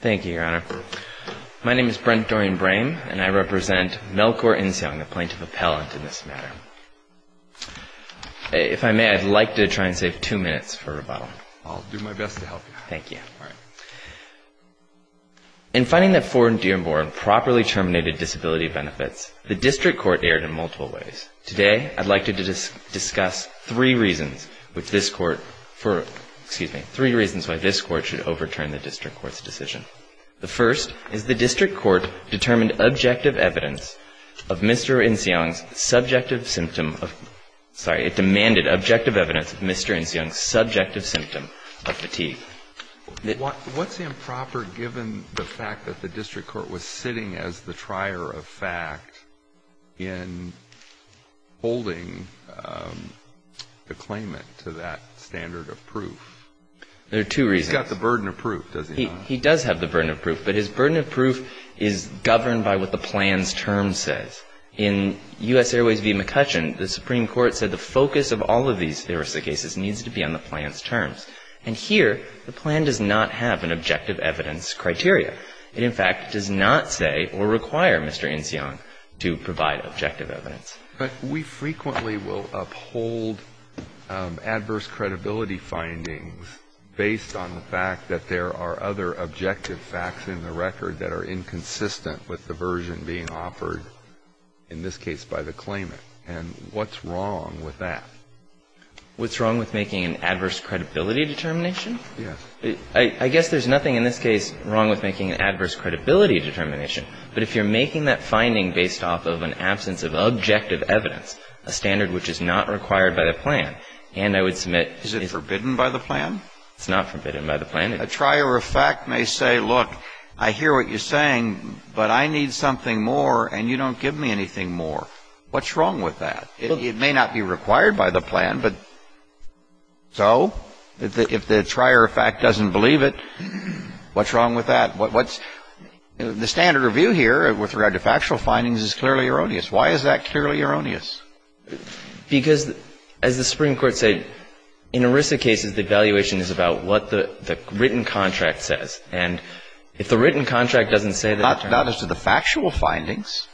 Thank you, Your Honor. My name is Brent Dorian Brame, and I represent Melchor Inciong, the plaintiff appellant in this matter. If I may, I'd like to try and save two minutes for rebuttal. I'll do my best to help you. Thank you. All right. In finding that Fort Dearborn properly terminated disability benefits, the district court erred in multiple ways. Today, I'd like to discuss three reasons which this Court for, excuse me, three reasons why this Court should overturn the district court's decision. The first is the district court determined objective evidence of Mr. Inciong's subjective symptom of, sorry, it demanded objective evidence of Mr. Inciong's subjective symptom of fatigue. What's improper given the fact that the district court was sitting as the trier of fact in holding the claimant to that standard of proof? There are two reasons. He's got the burden of proof, doesn't he? He does have the burden of proof, but his burden of proof is governed by what the plan's term says. In U.S. Airways v. McCutcheon, the Supreme Court said the focus of all of these heuristic cases needs to be on the plan's terms. And here, the plan does not have an objective evidence criteria. It, in fact, does not say or require Mr. Inciong to provide objective evidence. But we frequently will uphold adverse credibility findings based on the fact that there are other objective facts in the record that are inconsistent with the version being offered, in this case by the claimant. And what's wrong with that? What's wrong with making an adverse credibility determination? Yes. I guess there's nothing in this case wrong with making an adverse credibility determination. But if you're making that finding based off of an absence of objective evidence, a standard which is not required by the plan, and I would submit Is it forbidden by the plan? It's not forbidden by the plan. A trier of fact may say, look, I hear what you're saying, but I need something more and you don't give me anything more. What's wrong with that? It may not be required by the plan, but so? If the trier of fact doesn't believe it, what's wrong with that? What's the standard review here with regard to factual findings is clearly erroneous. Why is that clearly erroneous? Because, as the Supreme Court said, in ERISA cases, the evaluation is about what the written contract says. And if the written contract doesn't say that Not as to the factual findings.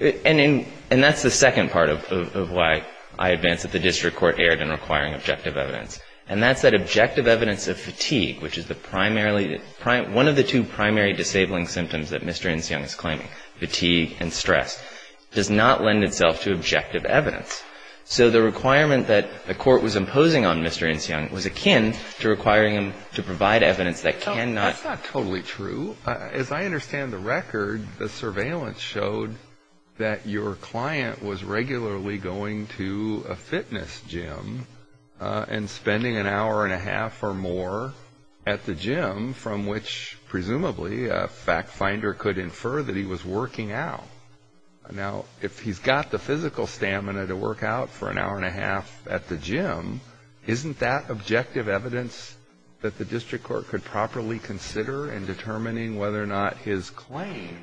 And that's the second part of why I advance that the district court erred in requiring objective evidence. And that's that objective evidence of fatigue, which is the primarily, one of the two primary disabling symptoms that Mr. Insung is claiming, fatigue and stress, does not lend itself to objective evidence. So the requirement that the court was imposing on Mr. Insung was akin to requiring him to provide evidence that cannot That's not totally true. Well, as I understand the record, the surveillance showed that your client was regularly going to a fitness gym and spending an hour and a half or more at the gym from which, presumably, a fact finder could infer that he was working out. Now, if he's got the physical stamina to work out for an hour and a half at the gym, isn't that objective evidence that the district court could properly consider in determining whether or not his claim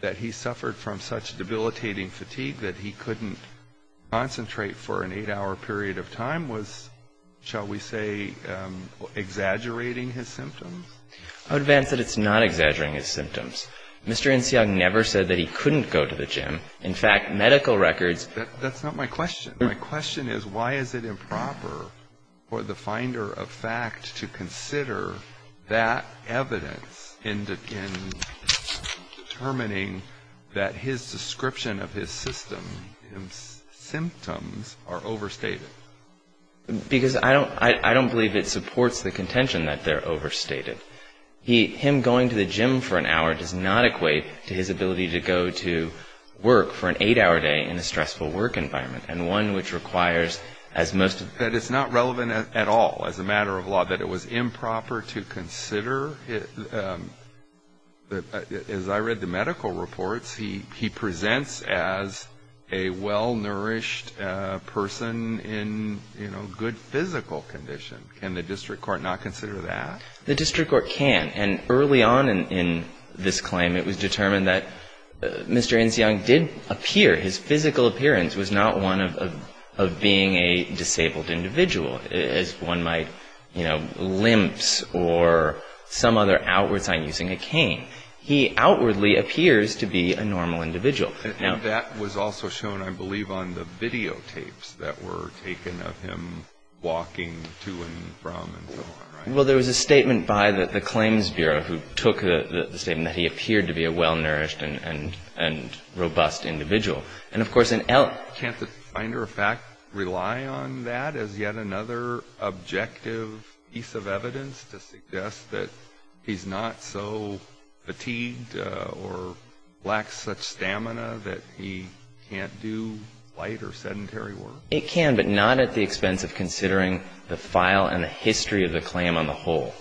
that he suffered from such debilitating fatigue that he couldn't concentrate for an eight-hour period of time was, shall we say, exaggerating his symptoms? I would advance that it's not exaggerating his symptoms. Mr. Insung never said that he couldn't go to the gym. In fact, medical records That's not my question. My question is why is it improper for the finder of fact to consider that evidence in determining that his description of his symptoms are overstated? Because I don't believe it supports the contention that they're overstated. Him going to the gym for an hour does not equate to his ability to go to work for an eight-hour day in a stressful work environment. And one which requires, as most That it's not relevant at all as a matter of law that it was improper to consider, as I read the medical reports, he presents as a well-nourished person in, you know, good physical condition. Can the district court not consider that? The district court can. And early on in this claim, it was determined that Mr. Insung did appear, his physical appearance was not one of being a disabled individual, as one might, you know, limps or some other outward sign using a cane. He outwardly appears to be a normal individual. And that was also shown, I believe, on the videotapes that were taken of him walking to and from and so on, right? Well, there was a statement by the claims bureau who took the statement that he appeared to be a well-nourished and robust individual. And, of course, in el- Can't the finder of fact rely on that as yet another objective piece of evidence to suggest that he's not so fatigued or lacks such stamina that he can't do light or sedentary work? It can, but not at the expense of considering the file and the history of the claim on the whole.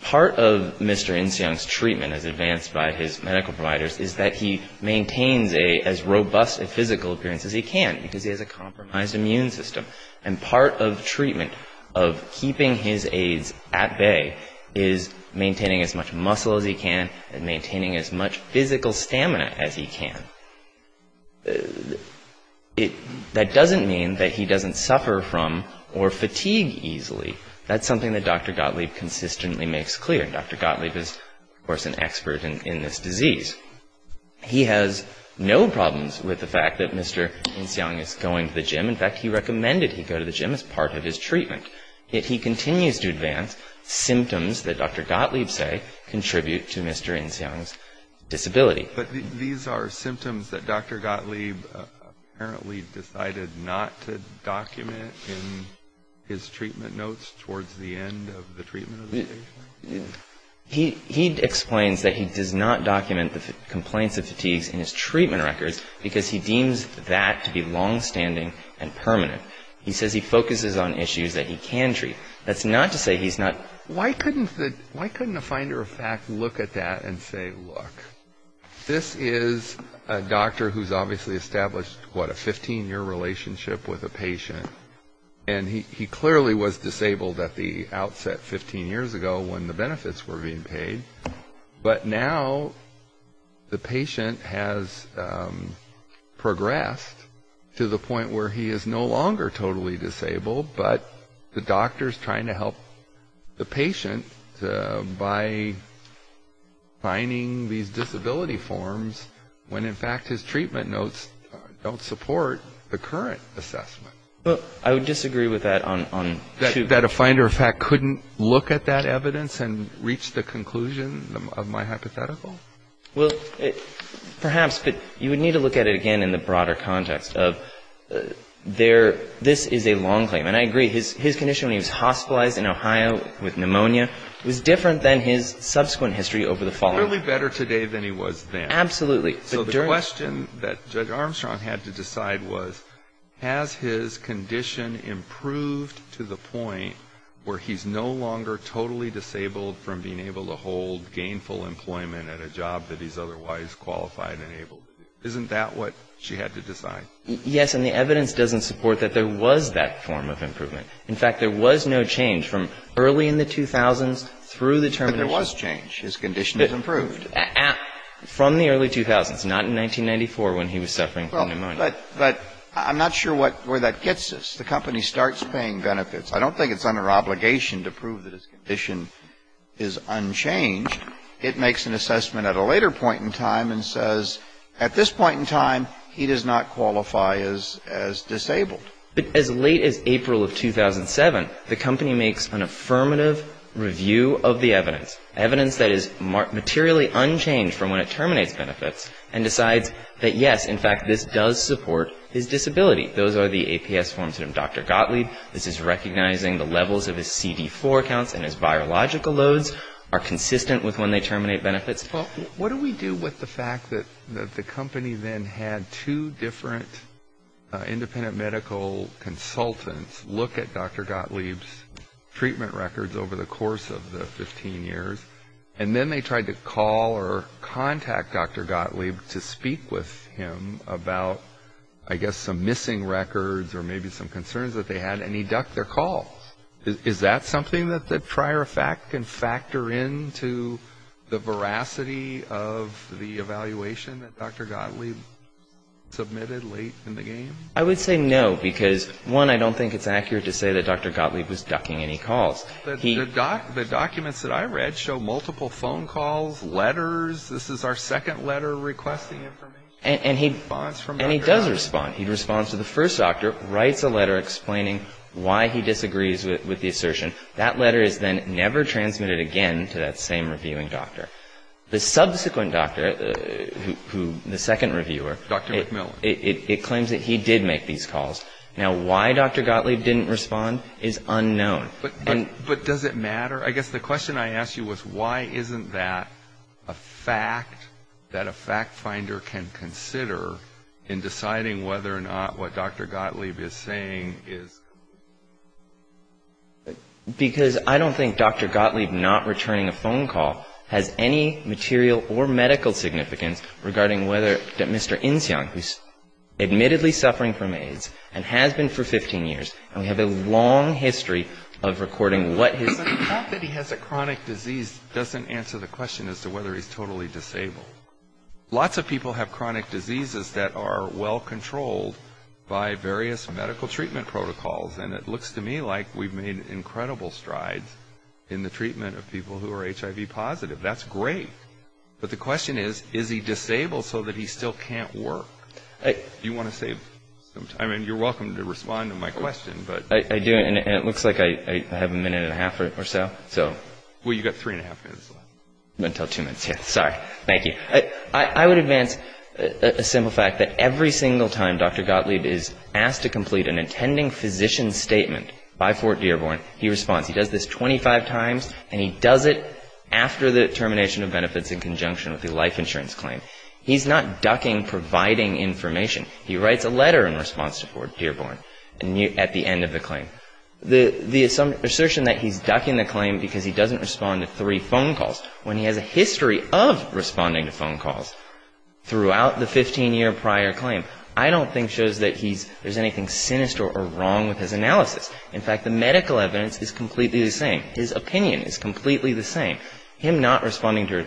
Part of Mr. Insung's treatment, as advanced by his medical providers, is that he maintains as robust a physical appearance as he can because he has a compromised immune system. And part of treatment of keeping his aids at bay is maintaining as much muscle as he can and maintaining as much physical stamina as he can. That doesn't mean that he doesn't suffer from or fatigue easily. That's something that Dr. Gottlieb consistently makes clear. Dr. Gottlieb is, of course, an expert in this disease. He has no problems with the fact that Mr. Insung is going to the gym. In fact, he recommended he go to the gym as part of his treatment. Yet he continues to advance symptoms that Dr. Gottlieb say contribute to Mr. Insung's disability. But these are symptoms that Dr. Gottlieb apparently decided not to document in his treatment notes towards the end of the treatment? He explains that he does not document the complaints of fatigues in his treatment records because he deems that to be longstanding and permanent. He says he focuses on issues that he can treat. Why couldn't a finder of fact look at that and say, look, this is a doctor who's obviously established, what, a 15-year relationship with a patient? And he clearly was disabled at the outset 15 years ago when the benefits were being paid. But now the patient has progressed to the point where he is no longer totally disabled, but the doctor is trying to help the patient by finding these disability forms when, in fact, his treatment notes don't support the current assessment. Well, I would disagree with that on two. That a finder of fact couldn't look at that evidence and reach the conclusion of my hypothetical? Well, perhaps. But you would need to look at it again in the broader context of this is a long claim. And I agree. His condition when he was hospitalized in Ohio with pneumonia was different than his subsequent history over the following. Clearly better today than he was then. Absolutely. So the question that Judge Armstrong had to decide was, has his condition improved to the point where he's no longer totally disabled from being able to hold gainful employment at a job that he's otherwise qualified and able to do? Isn't that what she had to decide? Yes. And the evidence doesn't support that there was that form of improvement. In fact, there was no change from early in the 2000s through the termination. But there was change. His condition has improved. From the early 2000s, not in 1994 when he was suffering from pneumonia. But I'm not sure where that gets us. The company starts paying benefits. I don't think it's under obligation to prove that his condition is unchanged. It makes an assessment at a later point in time and says, at this point in time, he does not qualify as disabled. But as late as April of 2007, the company makes an affirmative review of the evidence, evidence that is materially unchanged from when it terminates benefits, and decides that, yes, in fact, this does support his disability. Those are the APS forms from Dr. Gottlieb. This is recognizing the levels of his CD4 counts and his biological loads are consistent with when they terminate benefits. What do we do with the fact that the company then had two different independent medical consultants look at Dr. Gottlieb's treatment records over the course of the 15 years, and then they tried to call or contact Dr. Gottlieb to speak with him about, I guess, some missing records or maybe some concerns that they had, and he ducked their calls. Is that something that the prior fact can factor into the veracity of the evaluation that Dr. Gottlieb submitted late in the game? I would say no, because, one, I don't think it's accurate to say that Dr. Gottlieb was ducking any calls. The documents that I read show multiple phone calls, letters. This is our second letter requesting information. And he does respond. He responds to the first doctor, writes a letter explaining why he disagrees with the assertion. That letter is then never transmitted again to that same reviewing doctor. The subsequent doctor, the second reviewer, it claims that he did make these calls. Now, why Dr. Gottlieb didn't respond is unknown. But does it matter? I guess the question I asked you was why isn't that a fact that a fact finder can consider in deciding whether or not what Dr. Gottlieb is saying is correct? Because I don't think Dr. Gottlieb not returning a phone call has any material or medical significance regarding whether Mr. Insjong, who is admittedly suffering from AIDS and has been for 15 years, and we have a long history of recording what his... Not that he has a chronic disease doesn't answer the question as to whether he's totally disabled. Lots of people have chronic diseases that are well controlled by various medical treatment protocols. And it looks to me like we've made incredible strides in the treatment of people who are HIV positive. That's great. But the question is, is he disabled so that he still can't work? Do you want to save some time? I mean, you're welcome to respond to my question, but... I do, and it looks like I have a minute and a half or so. Well, you've got three and a half minutes left. Until two minutes. Sorry. Thank you. I would advance a simple fact that every single time Dr. Gottlieb is asked to complete an intending physician's statement by Fort Dearborn, he responds. He does this 25 times, and he does it after the termination of benefits in conjunction with the life insurance claim. He's not ducking providing information. He writes a letter in response to Fort Dearborn at the end of the claim. The assertion that he's ducking the claim because he doesn't respond to three phone calls, when he has a history of responding to phone calls throughout the 15-year prior claim, I don't think shows that there's anything sinister or wrong with his analysis. In fact, the medical evidence is completely the same. His opinion is completely the same. I disagree that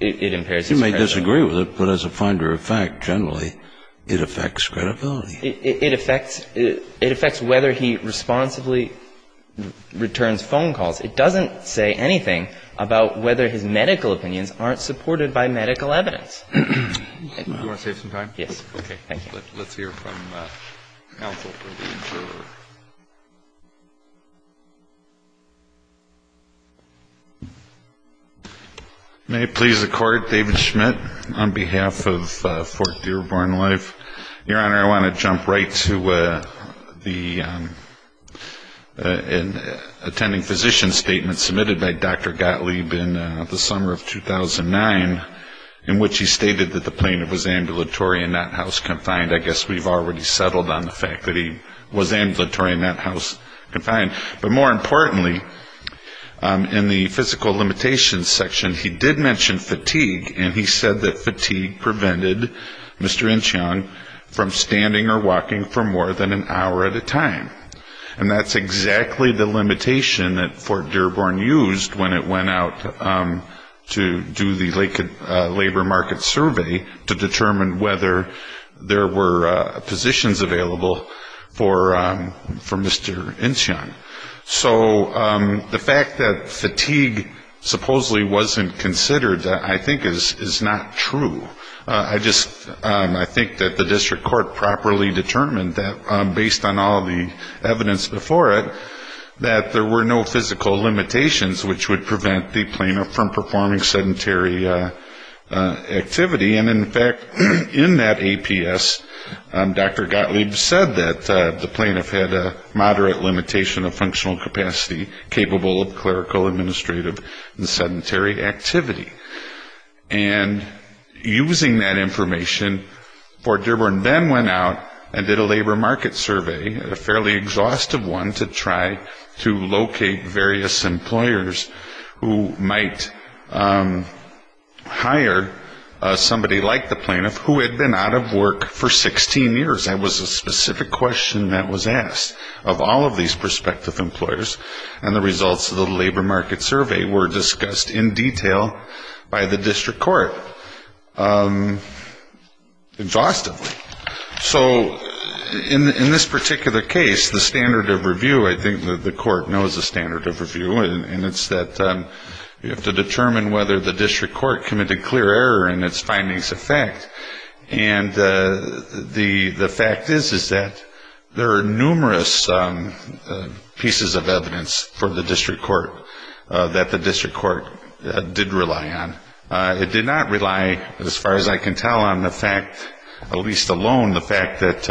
it impairs his credibility. You may disagree with it, but as a finder of fact, generally, it affects credibility. It affects whether he responsibly returns phone calls. It doesn't say anything about whether his medical evidence is correct. medical evidence. Do you want to save some time? Yes. Okay. Thank you. Let's hear from counsel. May it please the Court, David Schmidt on behalf of Fort Dearborn Life. Your Honor, I want to jump right to the intending physician's statement submitted by Dr. Gottlieb in the summer of 2015. in which he stated that the plaintiff was ambulatory and not house-confined. I guess we've already settled on the fact that he was ambulatory and not house-confined. But more importantly, in the physical limitations section, he did mention fatigue, and he said that fatigue prevented Mr. Incheon from standing or walking for more than an hour at a time. And that's exactly the limitation that Fort Dearborn used when it went out to do the labor market survey to determine whether there were positions available for Mr. Incheon. So the fact that fatigue supposedly wasn't considered, I think, is not true. I just think that the district court properly determined that, based on all the evidence before it, that there were no physical limitations which would prevent the plaintiff from performing sedentary activity. And in fact, in that APS, Dr. Gottlieb said that the plaintiff had a moderate limitation of functional capacity capable of clerical, administrative and sedentary activity. And using that information, Fort Dearborn then went out and did a labor market survey, a fairly exhaustive one, to try to locate various employers who might hire somebody like the plaintiff who had been out of work for 16 years. That was a specific question that was asked of all of these prospective employers, and the results of the labor market survey were discussed in detail by the district court exhaustively. So in this particular case, the standard of review, I think the court knows the standard of review, and it's that you have to determine whether the district court committed clear error in its findings of fact. And the fact is, is that there are numerous pieces of evidence for the district court that the district court did rely on. It did not rely, as far as I can tell, on the fact, at least alone, the fact that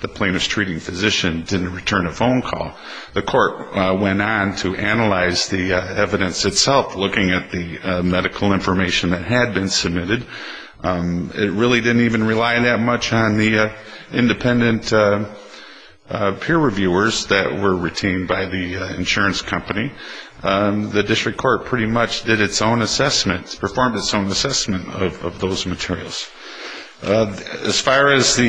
the plaintiff's treating physician didn't return a phone call. The court went on to analyze the evidence itself, looking at the medical information that had been submitted. It really didn't even rely that much on the independent peer reviewers that were retained by the insurance company. The district court pretty much did its own assessment, performed its own assessment of those materials. As far as some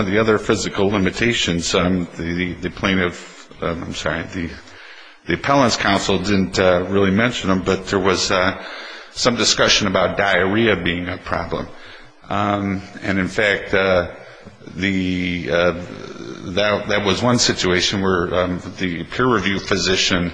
of the other physical limitations, the plaintiff, I'm sorry, the appellant's counsel didn't really mention them, but there was some discussion about diarrhea being a problem. And in fact, that was one situation where the peer review physician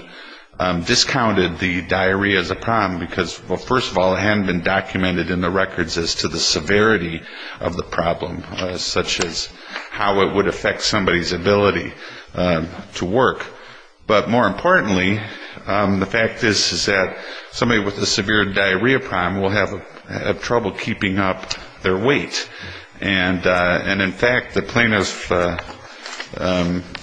discounted the diarrhea as a problem, because, well, first of all, it hadn't been documented in the records as to the severity of the problem, such as how it would affect somebody's ability to work. But more importantly, the fact is that somebody with a severe diarrhea problem will have trouble keeping up their weight. And in fact, the plaintiff,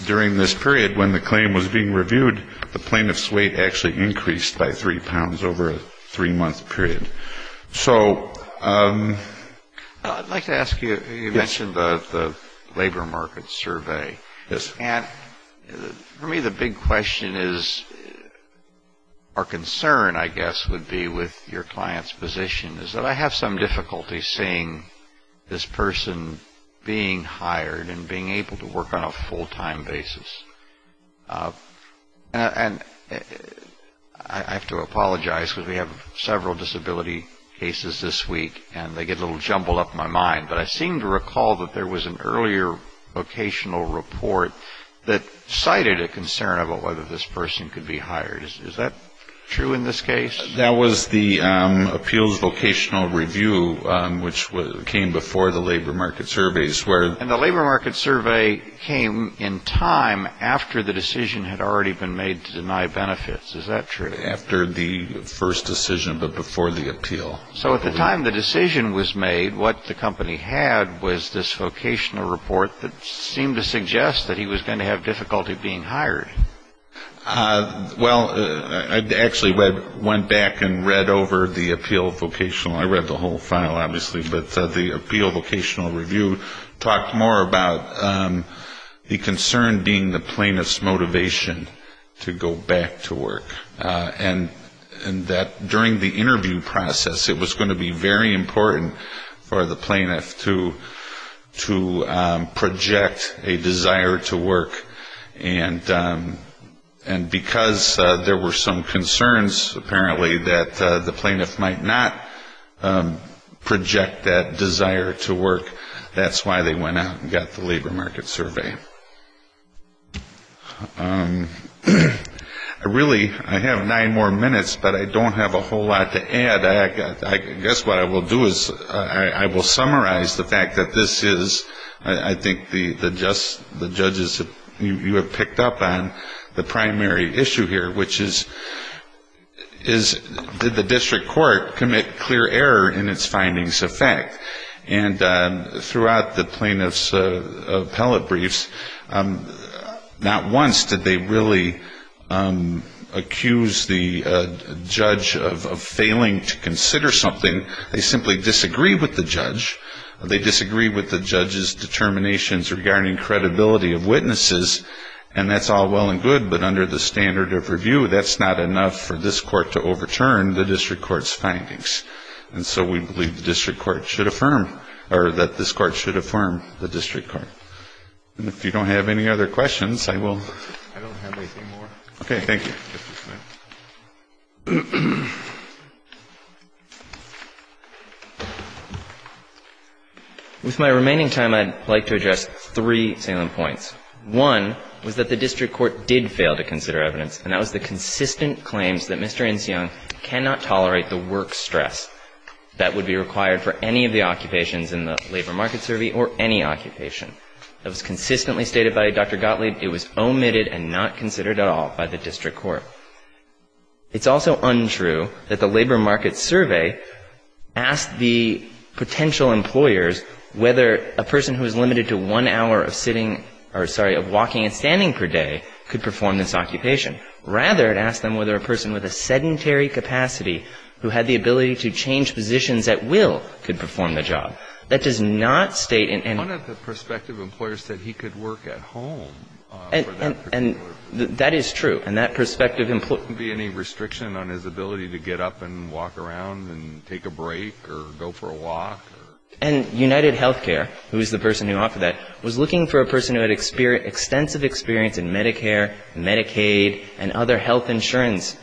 during this period when the claim was being reviewed, the plaintiff's weight actually increased by three pounds over a three-month period. So I'd like to ask you, you mentioned the labor market survey. And for me, the big question is, or concern, I guess, would be with your client's position, is that I have some difficulty seeing this person being hired and being able to work on a full-time basis. And I have to apologize, because we have several disability cases this week, and they get a little jumbled up in my mind, but I seem to recall that there was an earlier vocational report that cited a concern about whether this person could be hired. Is that true in this case? That was the appeals vocational review, which came before the labor market surveys. And the labor market survey came in time after the decision had already been made to deny benefits. Is that true? Not after the first decision, but before the appeal. So at the time the decision was made, what the company had was this vocational report that seemed to suggest that he was going to have difficulty being hired. Well, I actually went back and read over the appeal vocational. I read the whole file, obviously. But the appeal vocational review talked more about the concern being the plaintiff's motivation to go back to work, and that during the interview process it was going to be very important for the plaintiff to project a desire to work. And because there were some concerns, apparently, that the plaintiff might not project that desire to work, that's why they went out and got the labor market survey. Really, I have nine more minutes, but I don't have a whole lot to add. I guess what I will do is I will summarize the fact that this is, I think, the judges, you have picked up on the primary issue here, which is did the district court commit clear error in its findings of fact. And throughout the plaintiff's appellate briefs, not once did they really accuse the judge of failing to consider something. They simply disagreed with the judge. They disagreed with the judge's determinations regarding credibility of witnesses, and that's all well and good, but under the standard of review, that's not enough for this court to overturn the district court's findings. And so we believe the district court should affirm, or that this court should affirm the district court. And if you don't have any other questions, I will. I don't have anything more. Okay. Thank you, Justice Sotomayor. With my remaining time, I would like to address three salient points. One was that the district court did fail to consider evidence, and that was the consistent claims that Mr. Insleung cannot tolerate the work stress that would be required for any of the occupations in the labor market survey or any occupation. That was consistently stated by Dr. Gottlieb. It was omitted and not considered at all by the district court. It's also untrue that the labor market survey asked the potential employers whether a person who is limited to one hour of sitting or, sorry, of walking and standing per day could perform this occupation. Rather, it asked them whether a person with a sedentary capacity who had the ability to change positions at will could perform the job. That does not state in any of the perspectives that he could work at home for that particular position. And that is true. And that perspective employs not to be any restriction on his ability to get up and walk around and take a break or go for a walk or take a break. And UnitedHealthcare, who is the person who offered that, was looking for a person who had extensive experience in Medicare, Medicaid, and other health insurance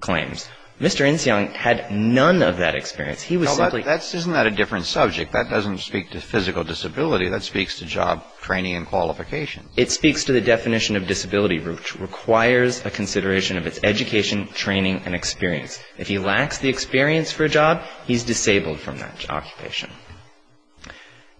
claims. Mr. Insleung had none of that experience. He was simply not. Isn't that a different subject? That doesn't speak to physical disability. That speaks to job training and qualifications. It speaks to the definition of disability, which requires a consideration of its education, training, and experience. If he lacks the experience for a job, he's disabled from that occupation.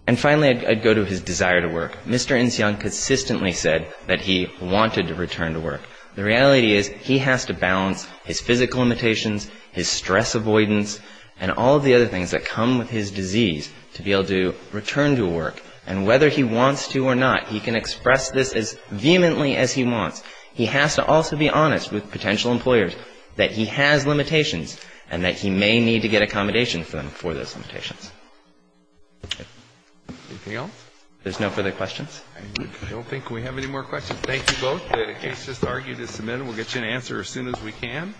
And finally, I'd go to his desire to work. Mr. Insleung consistently said that he wanted to return to work. The reality is he has to balance his physical limitations, his stress avoidance, and all of the other things that come with his disease to be able to return to work. And whether he wants to or not, he can express this as vehemently as he wants. He has to also be honest with potential employers that he has limitations and that he may need to get accommodation for those limitations. Anything else? There's no further questions? I don't think we have any more questions. Thank you both. The case just argued is submitted. We'll get you an answer as soon as we can.